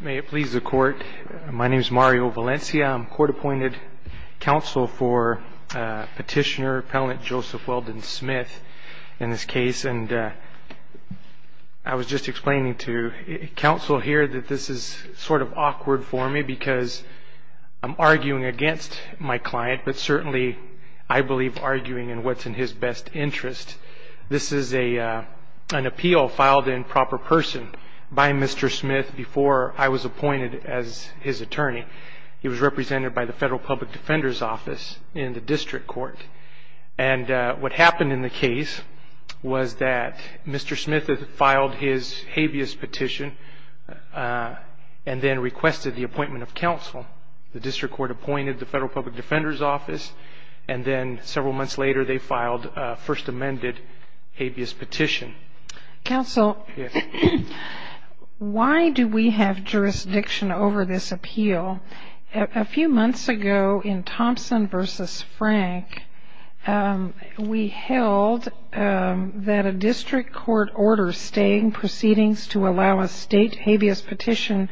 May it please the court. My name is Mario Valencia. I'm court-appointed counsel for Petitioner Appellant Joseph Weldon Smith in this case, and I was just explaining to counsel here that this is sort of awkward for me because I'm arguing against my client, but certainly I believe arguing in what's in his best interest. This is an appeal filed in proper person by Mr. Smith before I was appointed as his attorney. He was represented by the Federal Public Defender's Office in the district court, and what happened in the case was that Mr. Smith filed his habeas petition and then requested the appointment of counsel. The district court appointed the Federal Public Defender's Office, and then several months later they filed a first amended habeas petition. Counsel, why do we have jurisdiction over this appeal? A few months ago in Thompson v. Frank, we held that a district court order staying proceedings to allow a state habeas petitioner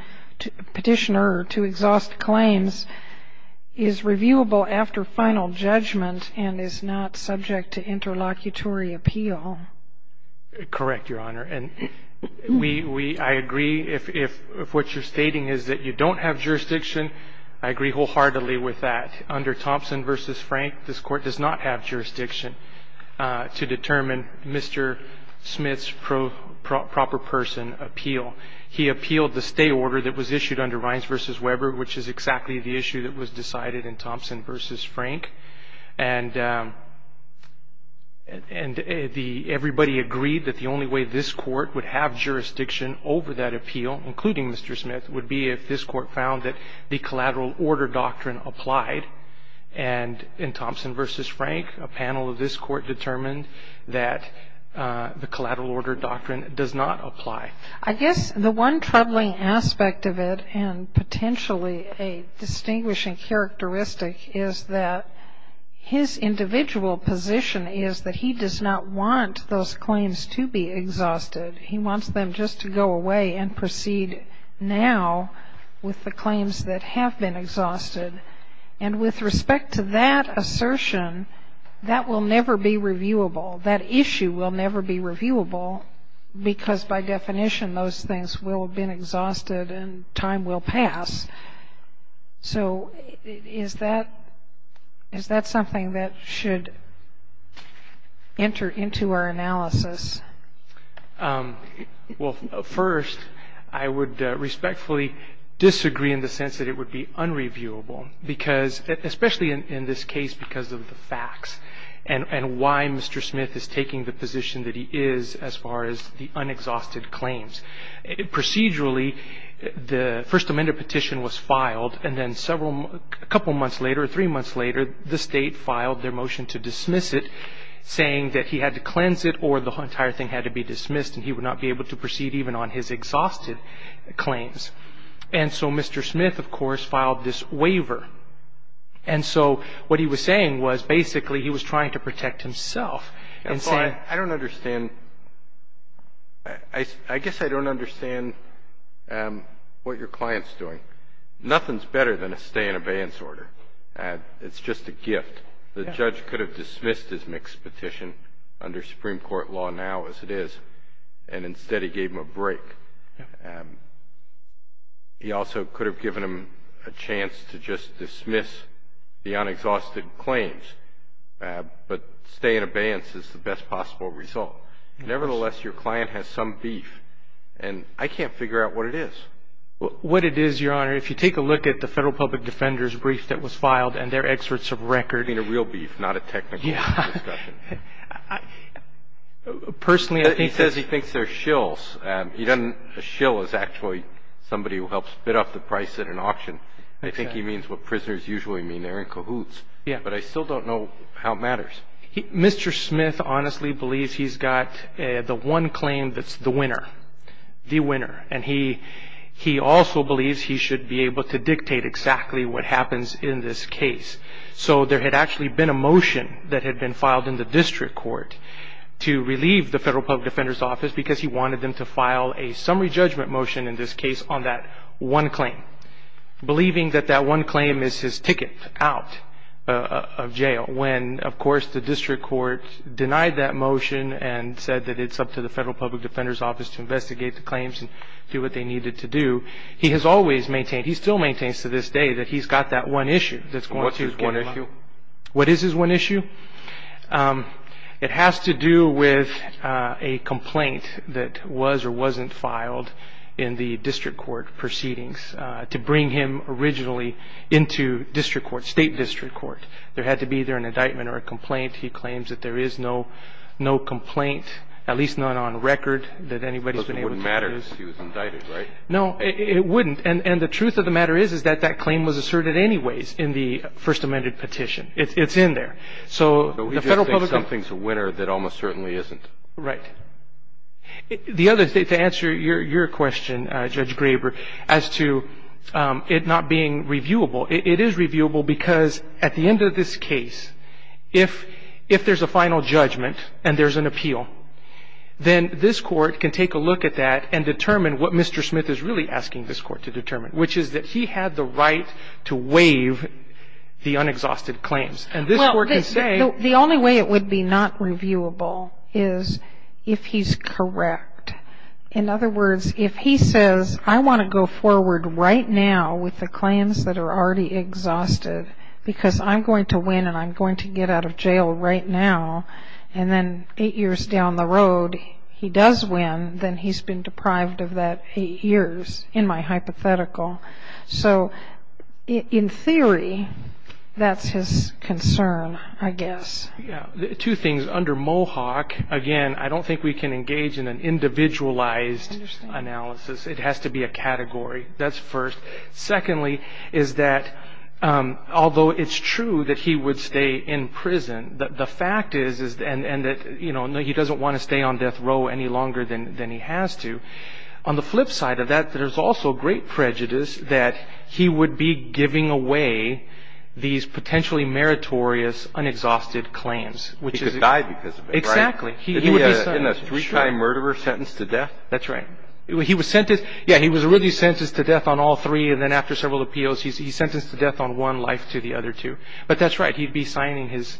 to exhaust claims is reviewable after final judgment and is not subject to interlocutory appeal. Correct, Your Honor, and we – I agree if what you're stating is that you don't have jurisdiction, I agree wholeheartedly with that. Under Thompson v. Frank, this court does not have jurisdiction to determine Mr. Smith's proper person appeal. He appealed the stay order that was issued under Rines v. Weber, which is exactly the issue that was decided in Thompson v. Frank, and the – everybody agreed that the only way this court would have jurisdiction over that appeal, including Mr. Smith, would be if this court found that the collateral order doctrine applied, and in Thompson v. Frank, a panel of this court determined that the collateral order doctrine does not apply. I guess the one troubling aspect of it, and potentially a distinguishing characteristic, is that his individual position is that he does not want those claims to be exhausted. He wants them just to go away and proceed now with the claims that have been exhausted. And with respect to that assertion, that will never be reviewable. That issue will never be reviewable because, by definition, those things will have been exhausted and time will pass. So is that – is that something that should enter into our analysis? Well, first, I would respectfully disagree in the sense that it would be unreviewable because – especially in this case because of the facts and why Mr. Smith is taking the position that he is as far as the unexhausted claims. Procedurally, the First Amendment petition was filed, and then several – a couple months later or three months later, the State filed their motion to dismiss it, saying that he had to cleanse it or the entire thing had to be dismissed and he would not be able to proceed even on his exhausted claims. And so Mr. Smith, of course, filed this waiver. And so what he was saying was basically he was trying to protect himself in saying – I don't understand what your client's doing. Nothing's better than a stay-in-abeyance order. It's just a gift. The judge could have dismissed his mixed petition under Supreme Court law now as it is, and instead he gave him a break. He also could have given him a chance to just dismiss the unexhausted claims, but stay-in-abeyance is the best possible result. Nevertheless, your client has some beef, and I can't figure out what it is. What it is, Your Honor, if you take a look at the Federal Public Defender's brief that was filed and their excerpts of record – I mean a real beef, not a technical discussion. Personally, I think – He says he thinks they're shills. A shill is actually somebody who helps bid off the price at an auction. I think he means what prisoners usually mean. They're in cahoots. Yeah. But I still don't know how it matters. Mr. Smith honestly believes he's got the one claim that's the winner. The winner. And he also believes he should be able to dictate exactly what happens in this case. So there had actually been a motion that had been filed in the district court to relieve the Federal Public Defender's office because he wanted them to file a summary judgment motion in this case on that one claim, believing that that one claim is his ticket out of jail. When, of course, the district court denied that motion and said that it's up to the Federal Public Defender's office to investigate the claims and do what they needed to do, he has always maintained – he still maintains to this day that he's got that one issue that's going to get him out. What's his one issue? What is his one issue? It has to do with a complaint that was or wasn't filed in the district court proceedings to bring him originally into district court, state district court. There had to be either an indictment or a complaint. He claims that there is no complaint, at least not on record, that anybody's been able to use. Because it wouldn't matter if he was indicted, right? No, it wouldn't. And the truth of the matter is that that claim was asserted anyways in the First Amendment petition. It's in there. So the Federal Public – But we just think something's a winner that almost certainly isn't. Right. The other – to answer your question, Judge Graber, as to it not being reviewable, it is reviewable because at the end of this case, if there's a final judgment and there's an appeal, then this Court can take a look at that and determine what Mr. Smith is really asking this Court to determine, which is that he had the right to waive the unexhausted claims. And this Court can say – Well, the only way it would be not reviewable is if he's correct. In other words, if he says, I want to go forward right now with the claims that are already exhausted because I'm going to win and I'm going to get out of jail right now, and then eight years down the road he does win, then he's been deprived of that eight years in my hypothetical. So in theory, that's his concern, I guess. Two things. Under Mohawk, again, I don't think we can engage in an individualized analysis. It has to be a category. That's first. Secondly is that although it's true that he would stay in prison, the fact is that he doesn't want to stay on death row any longer than he has to. On the flip side of that, there's also great prejudice that he would be giving away these potentially meritorious, unexhausted claims, which is – He could die because of it, right? Exactly. In a three-time murderer sentence to death? That's right. He was sentenced – yeah, he was really sentenced to death on all three, and then after several appeals he's sentenced to death on one life to the other two. But that's right. He'd be signing his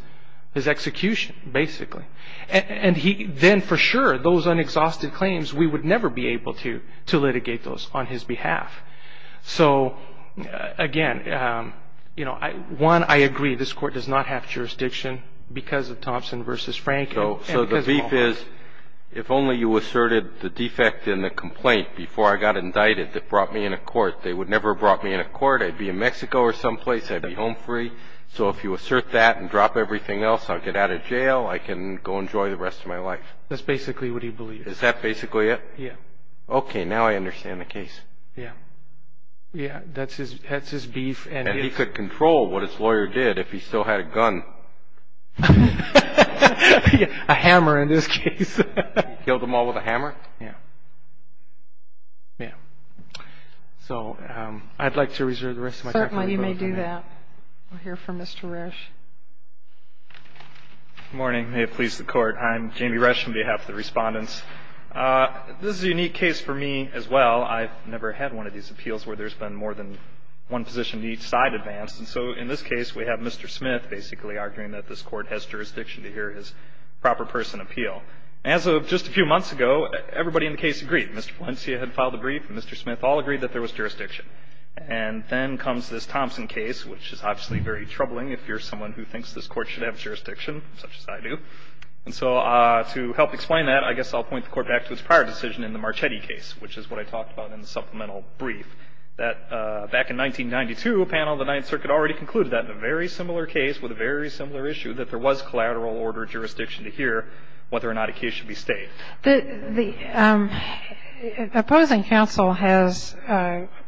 execution, basically. And then for sure, those unexhausted claims, we would never be able to litigate those on his behalf. So again, one, I agree. This Court does not have jurisdiction because of Thompson v. Franken. So the beef is if only you asserted the defect in the complaint before I got indicted that brought me into court. They would never have brought me into court. I'd be in Mexico or someplace. I'd be home free. So if you assert that and drop everything else, I'll get out of jail. I can go enjoy the rest of my life. That's basically what he believes. Is that basically it? Yeah. Okay, now I understand the case. Yeah. Yeah, that's his beef. And he could control what his lawyer did if he still had a gun. A hammer, in this case. He killed them all with a hammer? Yeah. Yeah. So I'd like to reserve the rest of my time. While you may do that, we'll hear from Mr. Resch. Good morning. May it please the Court. I'm Jamie Resch on behalf of the Respondents. This is a unique case for me as well. I've never had one of these appeals where there's been more than one position to each side advanced. And so in this case, we have Mr. Smith basically arguing that this Court has jurisdiction to hear his proper person appeal. As of just a few months ago, everybody in the case agreed. Mr. Valencia had filed a brief, and Mr. Smith all agreed that there was jurisdiction. And then comes this Thompson case, which is obviously very troubling if you're someone who thinks this Court should have jurisdiction, such as I do. And so to help explain that, I guess I'll point the Court back to its prior decision in the Marchetti case, which is what I talked about in the supplemental brief, that back in 1992, a panel of the Ninth Circuit already concluded that in a very similar case with a very similar issue, that there was collateral order jurisdiction to hear whether or not a case should be stayed. The opposing counsel has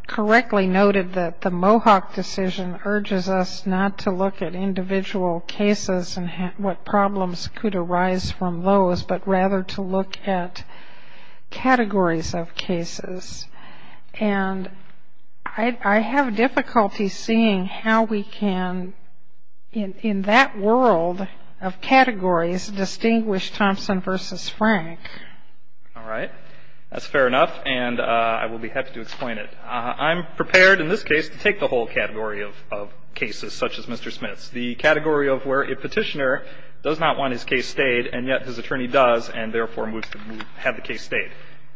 correctly noted that the Mohawk decision urges us not to look at individual cases and what problems could arise from those, but rather to look at categories of cases. And I have difficulty seeing how we can, in that world of categories, distinguish Thompson v. Frank. All right. That's fair enough, and I will be happy to explain it. I'm prepared in this case to take the whole category of cases such as Mr. Smith's, the category of where a petitioner does not want his case stayed, and yet his attorney does, and therefore moves to have the case stayed.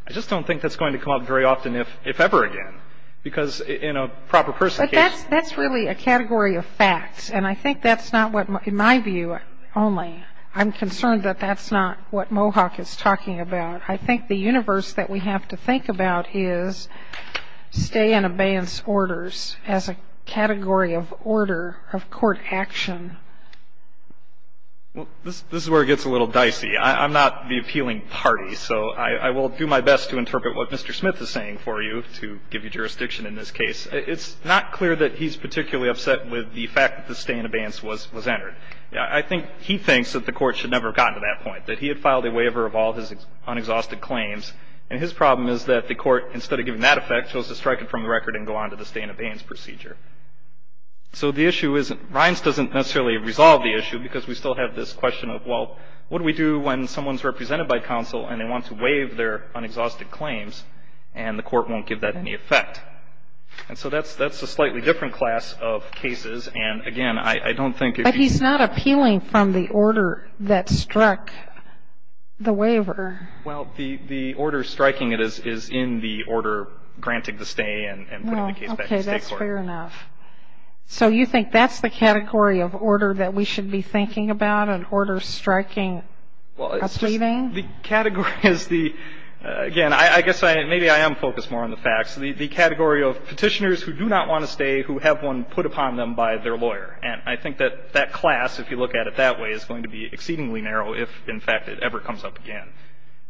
I just don't think that's going to come up very often, if ever again, because in a proper person's case. But that's really a category of facts, and I think that's not what, in my view only, I'm concerned that that's not what Mohawk is talking about. I think the universe that we have to think about is stay and abeyance orders as a category of order of court action. Well, this is where it gets a little dicey. I'm not the appealing party, so I will do my best to interpret what Mr. Smith is saying for you, to give you jurisdiction in this case. It's not clear that he's particularly upset with the fact that the stay and abeyance was entered. I think he thinks that the Court should never have gotten to that point, that he had filed a waiver of all his unexhausted claims, and his problem is that the Court, instead of giving that effect, chose to strike it from the record and go on to the stay and abeyance procedure. So the issue isn't, Rines doesn't necessarily resolve the issue, because we still have this question of, well, what do we do when someone's represented by counsel and they want to waive their unexhausted claims, and the Court won't give that any effect? And so that's a slightly different class of cases, and, again, I don't think if you... But he's not appealing from the order that struck the waiver. Well, the order striking it is in the order granting the stay and putting the case back in state court. Fair enough. So you think that's the category of order that we should be thinking about and order striking appealing? The category is the, again, I guess maybe I am focused more on the facts, the category of petitioners who do not want to stay who have one put upon them by their lawyer. And I think that that class, if you look at it that way, is going to be exceedingly narrow if, in fact, it ever comes up again.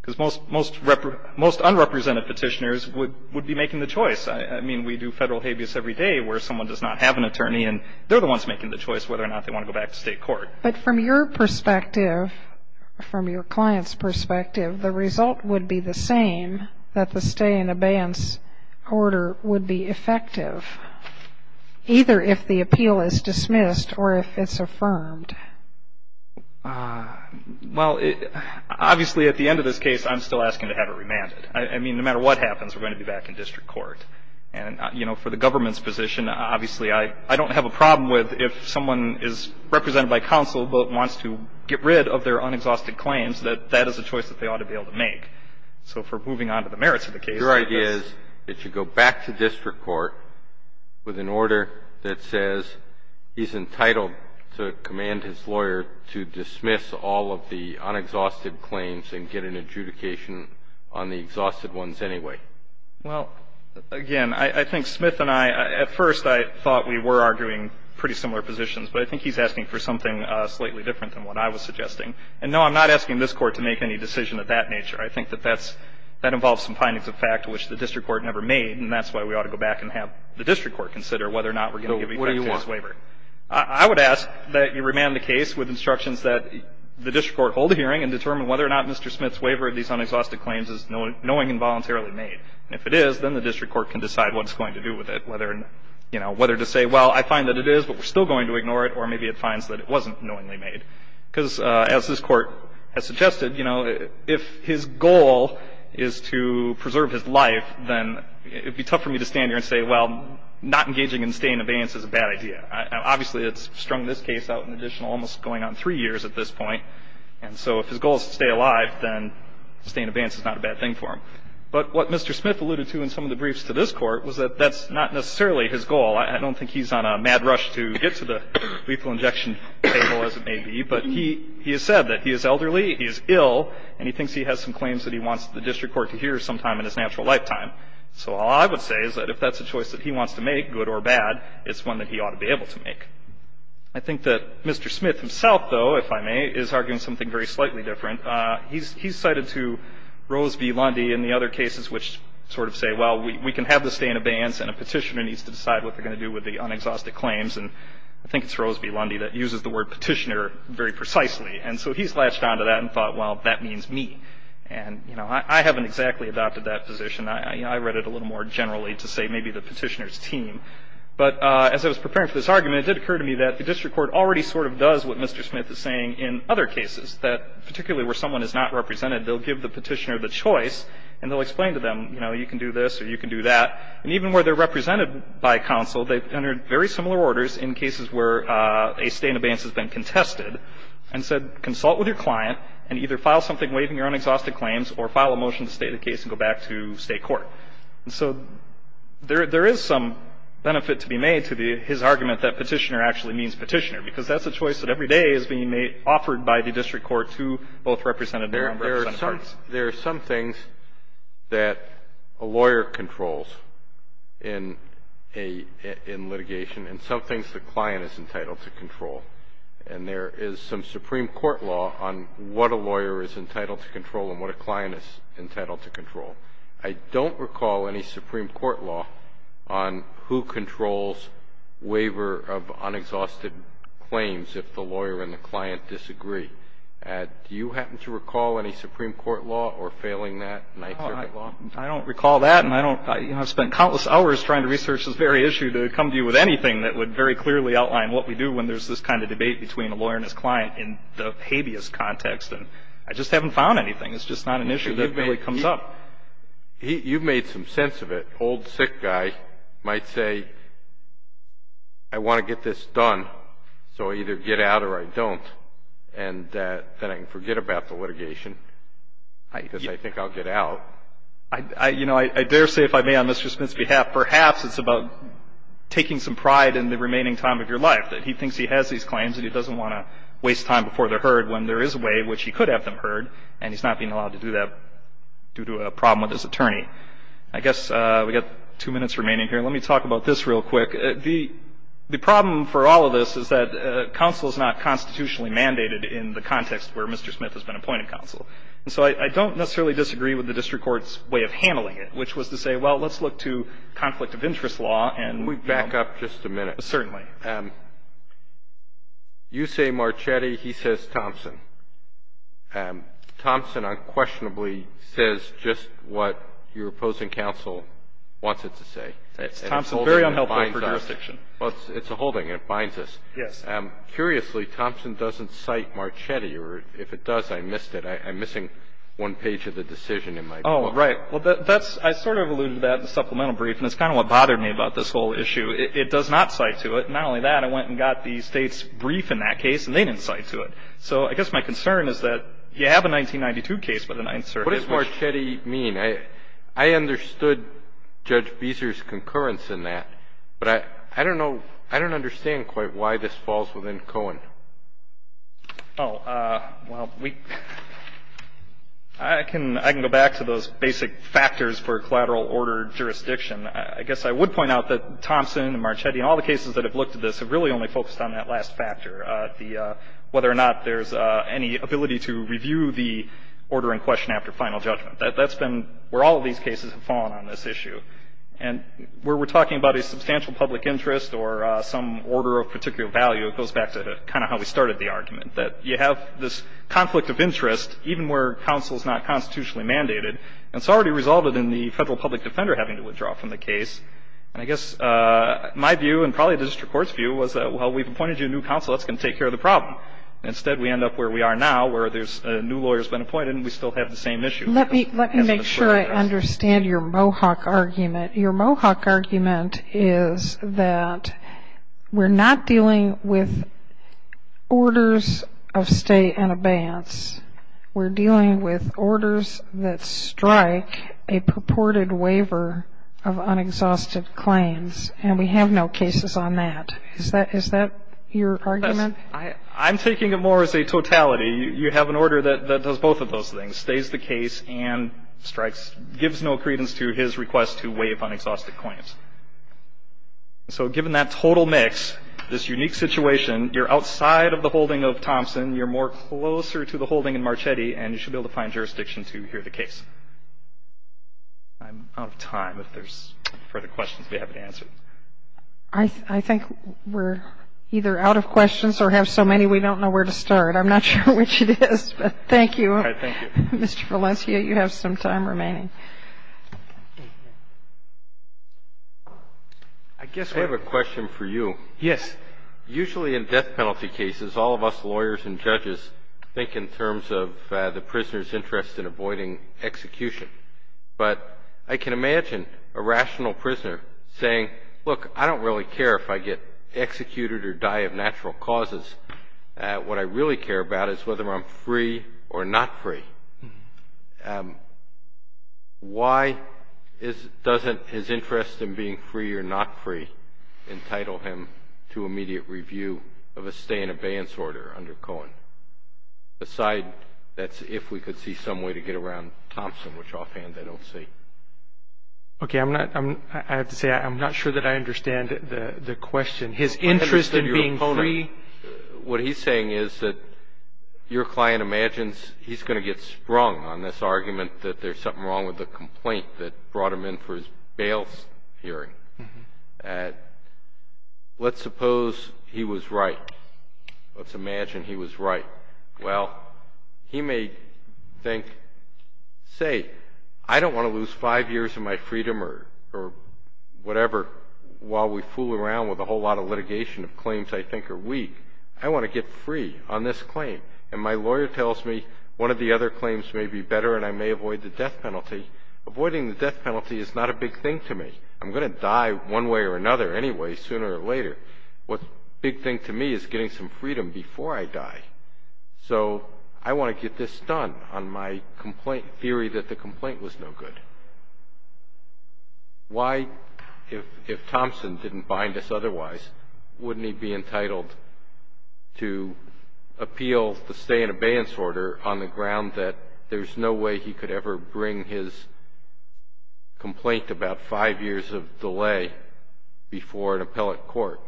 Because most unrepresented petitioners would be making the choice. I mean, we do federal habeas every day where someone does not have an attorney, and they're the ones making the choice whether or not they want to go back to state court. But from your perspective, from your client's perspective, the result would be the same that the stay and abeyance order would be effective, either if the appeal is dismissed or if it's affirmed. Well, obviously, at the end of this case, I'm still asking to have it remanded. I mean, no matter what happens, we're going to be back in district court. And, you know, for the government's position, obviously I don't have a problem with if someone is represented by counsel but wants to get rid of their unexhausted claims that that is a choice that they ought to be able to make. So if we're moving on to the merits of the case. Your idea is that you go back to district court with an order that says he's entitled to command his lawyer to dismiss all of the unexhausted claims and get an adjudication on the exhausted ones anyway. Well, again, I think Smith and I, at first I thought we were arguing pretty similar positions. But I think he's asking for something slightly different than what I was suggesting. And, no, I'm not asking this Court to make any decision of that nature. I think that that involves some findings of fact which the district court never made, and that's why we ought to go back and have the district court consider whether or not we're going to give effect to his waiver. So what do you want? I would ask that you remand the case with instructions that the district court hold a hearing and determine whether or not Mr. Smith's waiver of these unexhausted claims is knowingly and voluntarily made. And if it is, then the district court can decide what it's going to do with it, whether, you know, whether to say, well, I find that it is, but we're still going to ignore it, or maybe it finds that it wasn't knowingly made. Because as this Court has suggested, you know, if his goal is to preserve his life, then it would be tough for me to stand here and say, well, not engaging in stained abeyance is a bad idea. Obviously, it's strung this case out in additional almost going on three years at this point. And so if his goal is to stay alive, then stained abeyance is not a bad thing for him. But what Mr. Smith alluded to in some of the briefs to this Court was that that's not necessarily his goal. I don't think he's on a mad rush to get to the lethal injection table, as it may be. But he has said that he is elderly, he is ill, and he thinks he has some claims that he wants the district court to hear sometime in his natural lifetime. So all I would say is that if that's a choice that he wants to make, good or bad, it's one that he ought to be able to make. I think that Mr. Smith himself, though, if I may, is arguing something very slightly different. He's cited to Rose v. Lundy in the other cases which sort of say, well, we can have the stained abeyance, and a petitioner needs to decide what they're going to do with the unexhausted claims. And I think it's Rose v. Lundy that uses the word petitioner very precisely. And so he's latched onto that and thought, well, that means me. And, you know, I haven't exactly adopted that position. I read it a little more generally to say maybe the petitioner's team. But as I was preparing for this argument, it did occur to me that the district court already sort of does what Mr. Smith is saying in other cases, that particularly where someone is not represented, they'll give the petitioner the choice and they'll explain to them, you know, you can do this or you can do that. And even where they're represented by counsel, they've entered very similar orders in cases where a stained abeyance has been contested and said, consult with your client and either file something waiving your unexhausted claims or file a motion to state the case and go back to state court. And so there is some benefit to be made to his argument that petitioner actually means petitioner, because that's a choice that every day is being offered by the district court to both representatives. There are some things that a lawyer controls in litigation and some things the client is entitled to control. And there is some Supreme Court law on what a lawyer is entitled to control and what a client is entitled to control. I don't recall any Supreme Court law on who controls waiver of unexhausted claims if the lawyer and the client disagree. Do you happen to recall any Supreme Court law or failing that? I don't recall that, and I don't – you know, I've spent countless hours trying to research this very issue to come to you with anything that would very clearly outline what we do when there's this kind of debate between a lawyer and his client in the habeas context, and I just haven't found anything. It's just not an issue that really comes up. You've made some sense of it. Old, sick guy might say, I want to get this done, so I either get out or I don't, and then I can forget about the litigation because I think I'll get out. You know, I dare say, if I may, on Mr. Smith's behalf, perhaps it's about taking some pride in the remaining time of your life, that he thinks he has these claims and he doesn't want to waste time before they're heard when there is a way in which he could have them heard, and he's not being allowed to do that due to a problem with his attorney. I guess we've got two minutes remaining here. Let me talk about this real quick. The problem for all of this is that counsel is not constitutionally mandated in the context where Mr. Smith has been appointed counsel, and so I don't necessarily disagree with the district court's way of handling it, which was to say, well, let's look to conflict of interest law and we'll go. We'll back up just a minute. Certainly. You say Marchetti. He says Thompson. Thompson unquestionably says just what your opposing counsel wants it to say. It's Thompson, very unhelpful for jurisdiction. Well, it's a holding. It binds us. Yes. Curiously, Thompson doesn't cite Marchetti, or if it does, I missed it. I'm missing one page of the decision in my book. Oh, right. Well, I sort of alluded to that in the supplemental brief, and it's kind of what bothered me about this whole issue. It does not cite to it. Not only that, I went and got the State's brief in that case, and they didn't cite to it. So I guess my concern is that you have a 1992 case, but then I insert it. What does Marchetti mean? I understood Judge Beeser's concurrence in that, but I don't know, I don't understand quite why this falls within Cohen. Oh, well, I can go back to those basic factors for collateral order jurisdiction. I guess I would point out that Thompson and Marchetti and all the cases that have looked at this have really only focused on that last factor, whether or not there's any ability to review the order in question after final judgment. That's been where all of these cases have fallen on this issue. And where we're talking about a substantial public interest or some order of particular value, it goes back to kind of how we started the argument, that you have this conflict of interest, even where counsel's not constitutionally mandated. And it's already resulted in the federal public defender having to withdraw from the case. And I guess my view and probably the district court's view was that, well, we've appointed you a new counsel. That's going to take care of the problem. Instead, we end up where we are now, where there's a new lawyer's been appointed, and we still have the same issue. Let me make sure I understand your Mohawk argument. Your Mohawk argument is that we're not dealing with orders of stay and abeyance. We're dealing with orders that strike a purported waiver of unexhausted claims, and we have no cases on that. Is that your argument? I'm taking it more as a totality. You have an order that does both of those things, stays the case and strikes, gives no credence to his request to waive unexhausted claims. And so given that total mix, this unique situation, you're outside of the holding of Thompson, you're more closer to the holding in Marchetti, and you should be able to find jurisdiction to hear the case. I'm out of time if there's further questions we haven't answered. I think we're either out of questions or have so many we don't know where to start. I'm not sure which it is, but thank you. All right. Thank you. Mr. Valencia, you have some time remaining. I guess I have a question for you. Yes. Usually in death penalty cases, all of us lawyers and judges think in terms of the prisoner's interest in avoiding execution. But I can imagine a rational prisoner saying, look, I don't really care if I get executed or die of natural causes. What I really care about is whether I'm free or not free. Why doesn't his interest in being free or not free entitle him to immediate review of a stay in abeyance order under Cohen? Aside, that's if we could see some way to get around Thompson, which offhand I don't see. Okay. I have to say I'm not sure that I understand the question. His interest in being free? What he's saying is that your client imagines he's going to get sprung on this argument that there's something wrong with the complaint that brought him in for his bail hearing. Let's suppose he was right. Let's imagine he was right. Well, he may think, say, I don't want to lose five years of my freedom or whatever while we fool around with a whole lot of litigation of claims I think are weak. I want to get free on this claim. And my lawyer tells me one of the other claims may be better and I may avoid the death penalty. Avoiding the death penalty is not a big thing to me. I'm going to die one way or another anyway, sooner or later. What's a big thing to me is getting some freedom before I die. So I want to get this done on my theory that the complaint was no good. Why, if Thompson didn't bind us otherwise, wouldn't he be entitled to appeal the stay in abeyance order on the ground that there's no way he could ever bring his complaint about five years of delay before an appellate court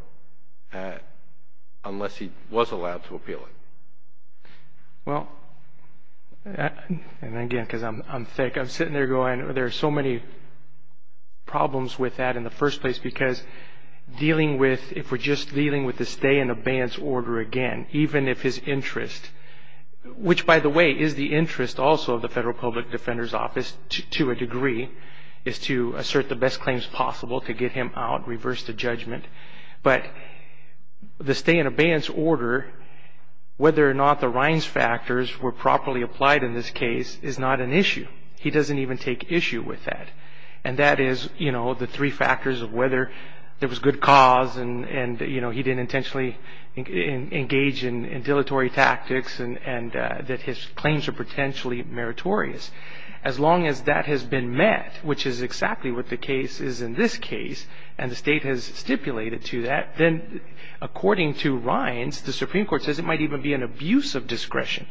unless he was allowed to appeal it? Well, and again because I'm thick, I'm sitting there going there are so many problems with that in the first place because dealing with, if we're just dealing with the stay in abeyance order again, even if his interest, which by the way is the interest also of the Federal Public Defender's Office to a degree, is to assert the best claims possible to get him out, reverse the judgment. But the stay in abeyance order, whether or not the Rines factors were properly applied in this case, is not an issue. He doesn't even take issue with that. And that is, you know, the three factors of whether there was good cause and, you know, he didn't intentionally engage in dilatory tactics and that his claims are potentially meritorious. As long as that has been met, which is exactly what the case is in this case, and the State has stipulated to that, then according to Rines, the Supreme Court says it might even be an abuse of discretion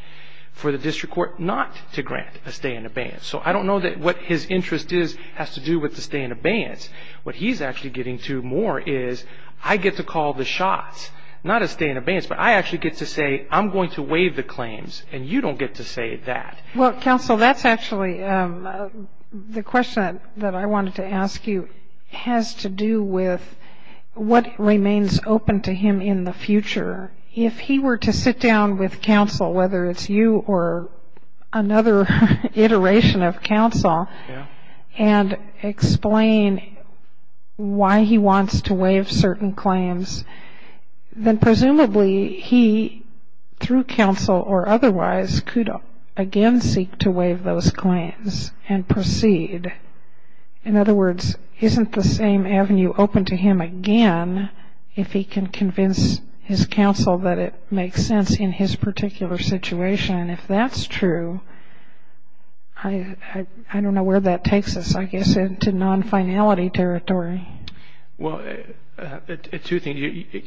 for the district court not to grant a stay in abeyance. So I don't know that what his interest is has to do with the stay in abeyance. What he's actually getting to more is I get to call the shots, not a stay in abeyance, but I actually get to say I'm going to waive the claims and you don't get to say that. Well, counsel, that's actually the question that I wanted to ask you has to do with what remains open to him in the future. If he were to sit down with counsel, whether it's you or another iteration of counsel, and explain why he wants to waive certain claims, then presumably he, through counsel or otherwise, could again seek to waive those claims and proceed. In other words, isn't the same avenue open to him again if he can convince his counsel that it makes sense in his particular situation? If that's true, I don't know where that takes us, I guess, into non-finality territory. Well, two things.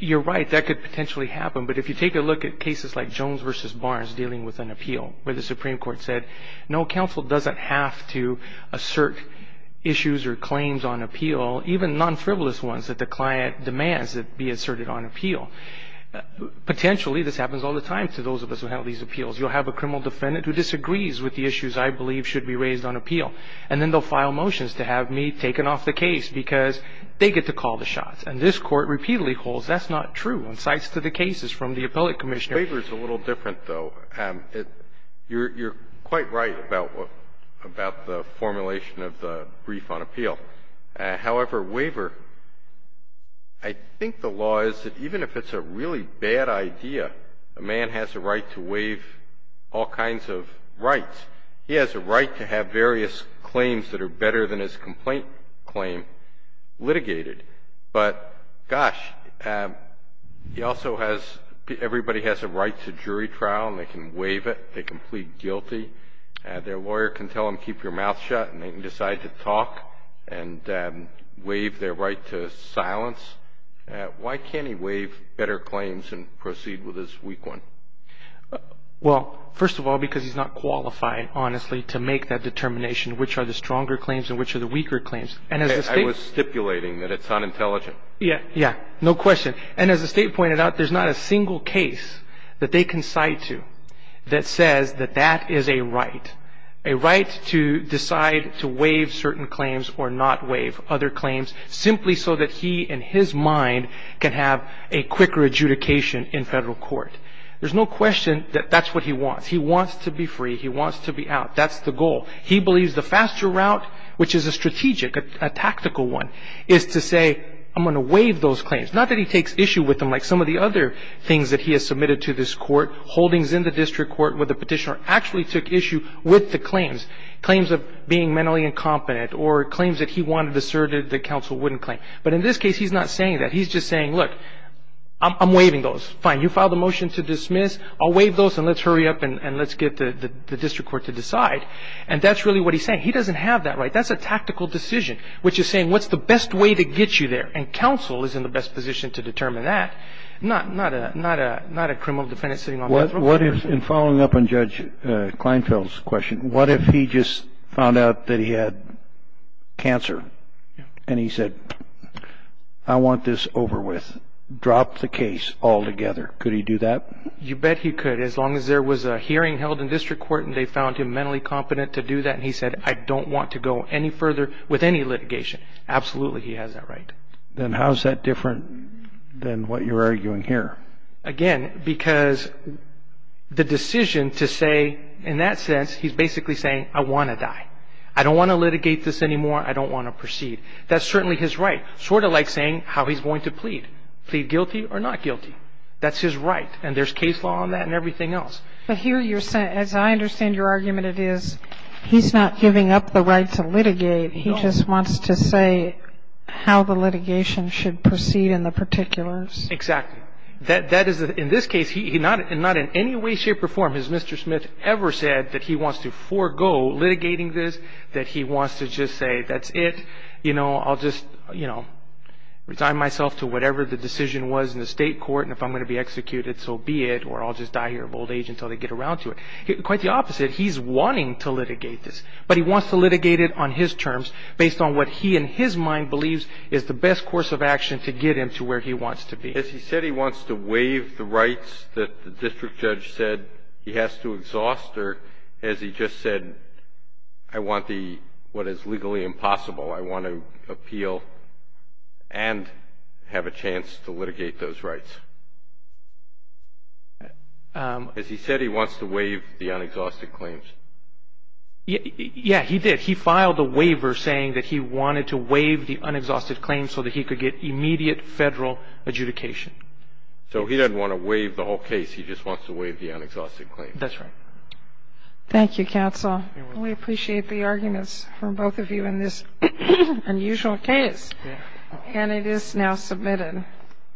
You're right, that could potentially happen, but if you take a look at cases like Jones v. Barnes dealing with an appeal where the Supreme Court said, no, counsel doesn't have to assert issues or claims on appeal, even non-frivolous ones that the client demands that be asserted on appeal. Potentially, this happens all the time to those of us who have these appeals. You'll have a criminal defendant who disagrees with the issues I believe should be raised on appeal, and then they'll file motions to have me taken off the case because they get to call the shots. And this Court repeatedly holds that's not true and cites to the cases from the appellate commissioner. Waiver is a little different, though. You're quite right about the formulation of the brief on appeal. However, waiver, I think the law is that even if it's a really bad idea, a man has a right to waive all kinds of rights. He has a right to have various claims that are better than his complaint claim litigated. But, gosh, he also has, everybody has a right to jury trial, and they can waive it. They can plead guilty. Their lawyer can tell them keep your mouth shut, and they can decide to talk and waive their right to silence. Why can't he waive better claims and proceed with his weak one? Well, first of all, because he's not qualified, honestly, to make that determination, which are the stronger claims and which are the weaker claims. I was stipulating that it's unintelligent. Yeah, yeah, no question. And as the State pointed out, there's not a single case that they concite to that says that that is a right, a right to decide to waive certain claims or not waive other claims, simply so that he and his mind can have a quicker adjudication in federal court. There's no question that that's what he wants. He wants to be free. He wants to be out. That's the goal. He believes the faster route, which is a strategic, a tactical one, is to say I'm going to waive those claims. Not that he takes issue with them like some of the other things that he has submitted to this court, holdings in the district court where the petitioner actually took issue with the claims, claims of being mentally incompetent or claims that he wanted asserted that counsel wouldn't claim. But in this case, he's not saying that. He's just saying, look, I'm waiving those. Fine, you filed a motion to dismiss. I'll waive those, and let's hurry up and let's get the district court to decide. And that's really what he's saying. He doesn't have that right. That's a tactical decision, which is saying what's the best way to get you there? And counsel is in the best position to determine that, not a criminal defendant sitting on the floor. What if, in following up on Judge Kleinfeld's question, what if he just found out that he had cancer? And he said, I want this over with. Drop the case altogether. Could he do that? You bet he could, as long as there was a hearing held in district court and they found him mentally competent to do that. And he said, I don't want to go any further with any litigation. Absolutely he has that right. Then how is that different than what you're arguing here? Again, because the decision to say, in that sense, he's basically saying, I want to die. I don't want to litigate this anymore. I don't want to proceed. That's certainly his right, sort of like saying how he's going to plead, plead guilty or not guilty. That's his right. And there's case law on that and everything else. But here you're saying, as I understand your argument, it is he's not giving up the right to litigate. He just wants to say how the litigation should proceed in the particulars. Exactly. That is, in this case, not in any way, shape, or form has Mr. Smith ever said that he wants to forego litigating this, that he wants to just say, that's it. You know, I'll just, you know, resign myself to whatever the decision was in the state court, and if I'm going to be executed, so be it, or I'll just die here of old age until they get around to it. Quite the opposite. He's wanting to litigate this. But he wants to litigate it on his terms, based on what he, in his mind, believes is the best course of action to get him to where he wants to be. Has he said he wants to waive the rights that the district judge said he has to exhaust, or has he just said, I want the, what is legally impossible, I want to appeal and have a chance to litigate those rights? Has he said he wants to waive the unexhausted claims? Yeah, he did. He filed a waiver saying that he wanted to waive the unexhausted claims so that he could get immediate Federal adjudication. So he doesn't want to waive the whole case. He just wants to waive the unexhausted claims. That's right. Thank you, counsel. We appreciate the arguments from both of you in this unusual case. And it is now submitted.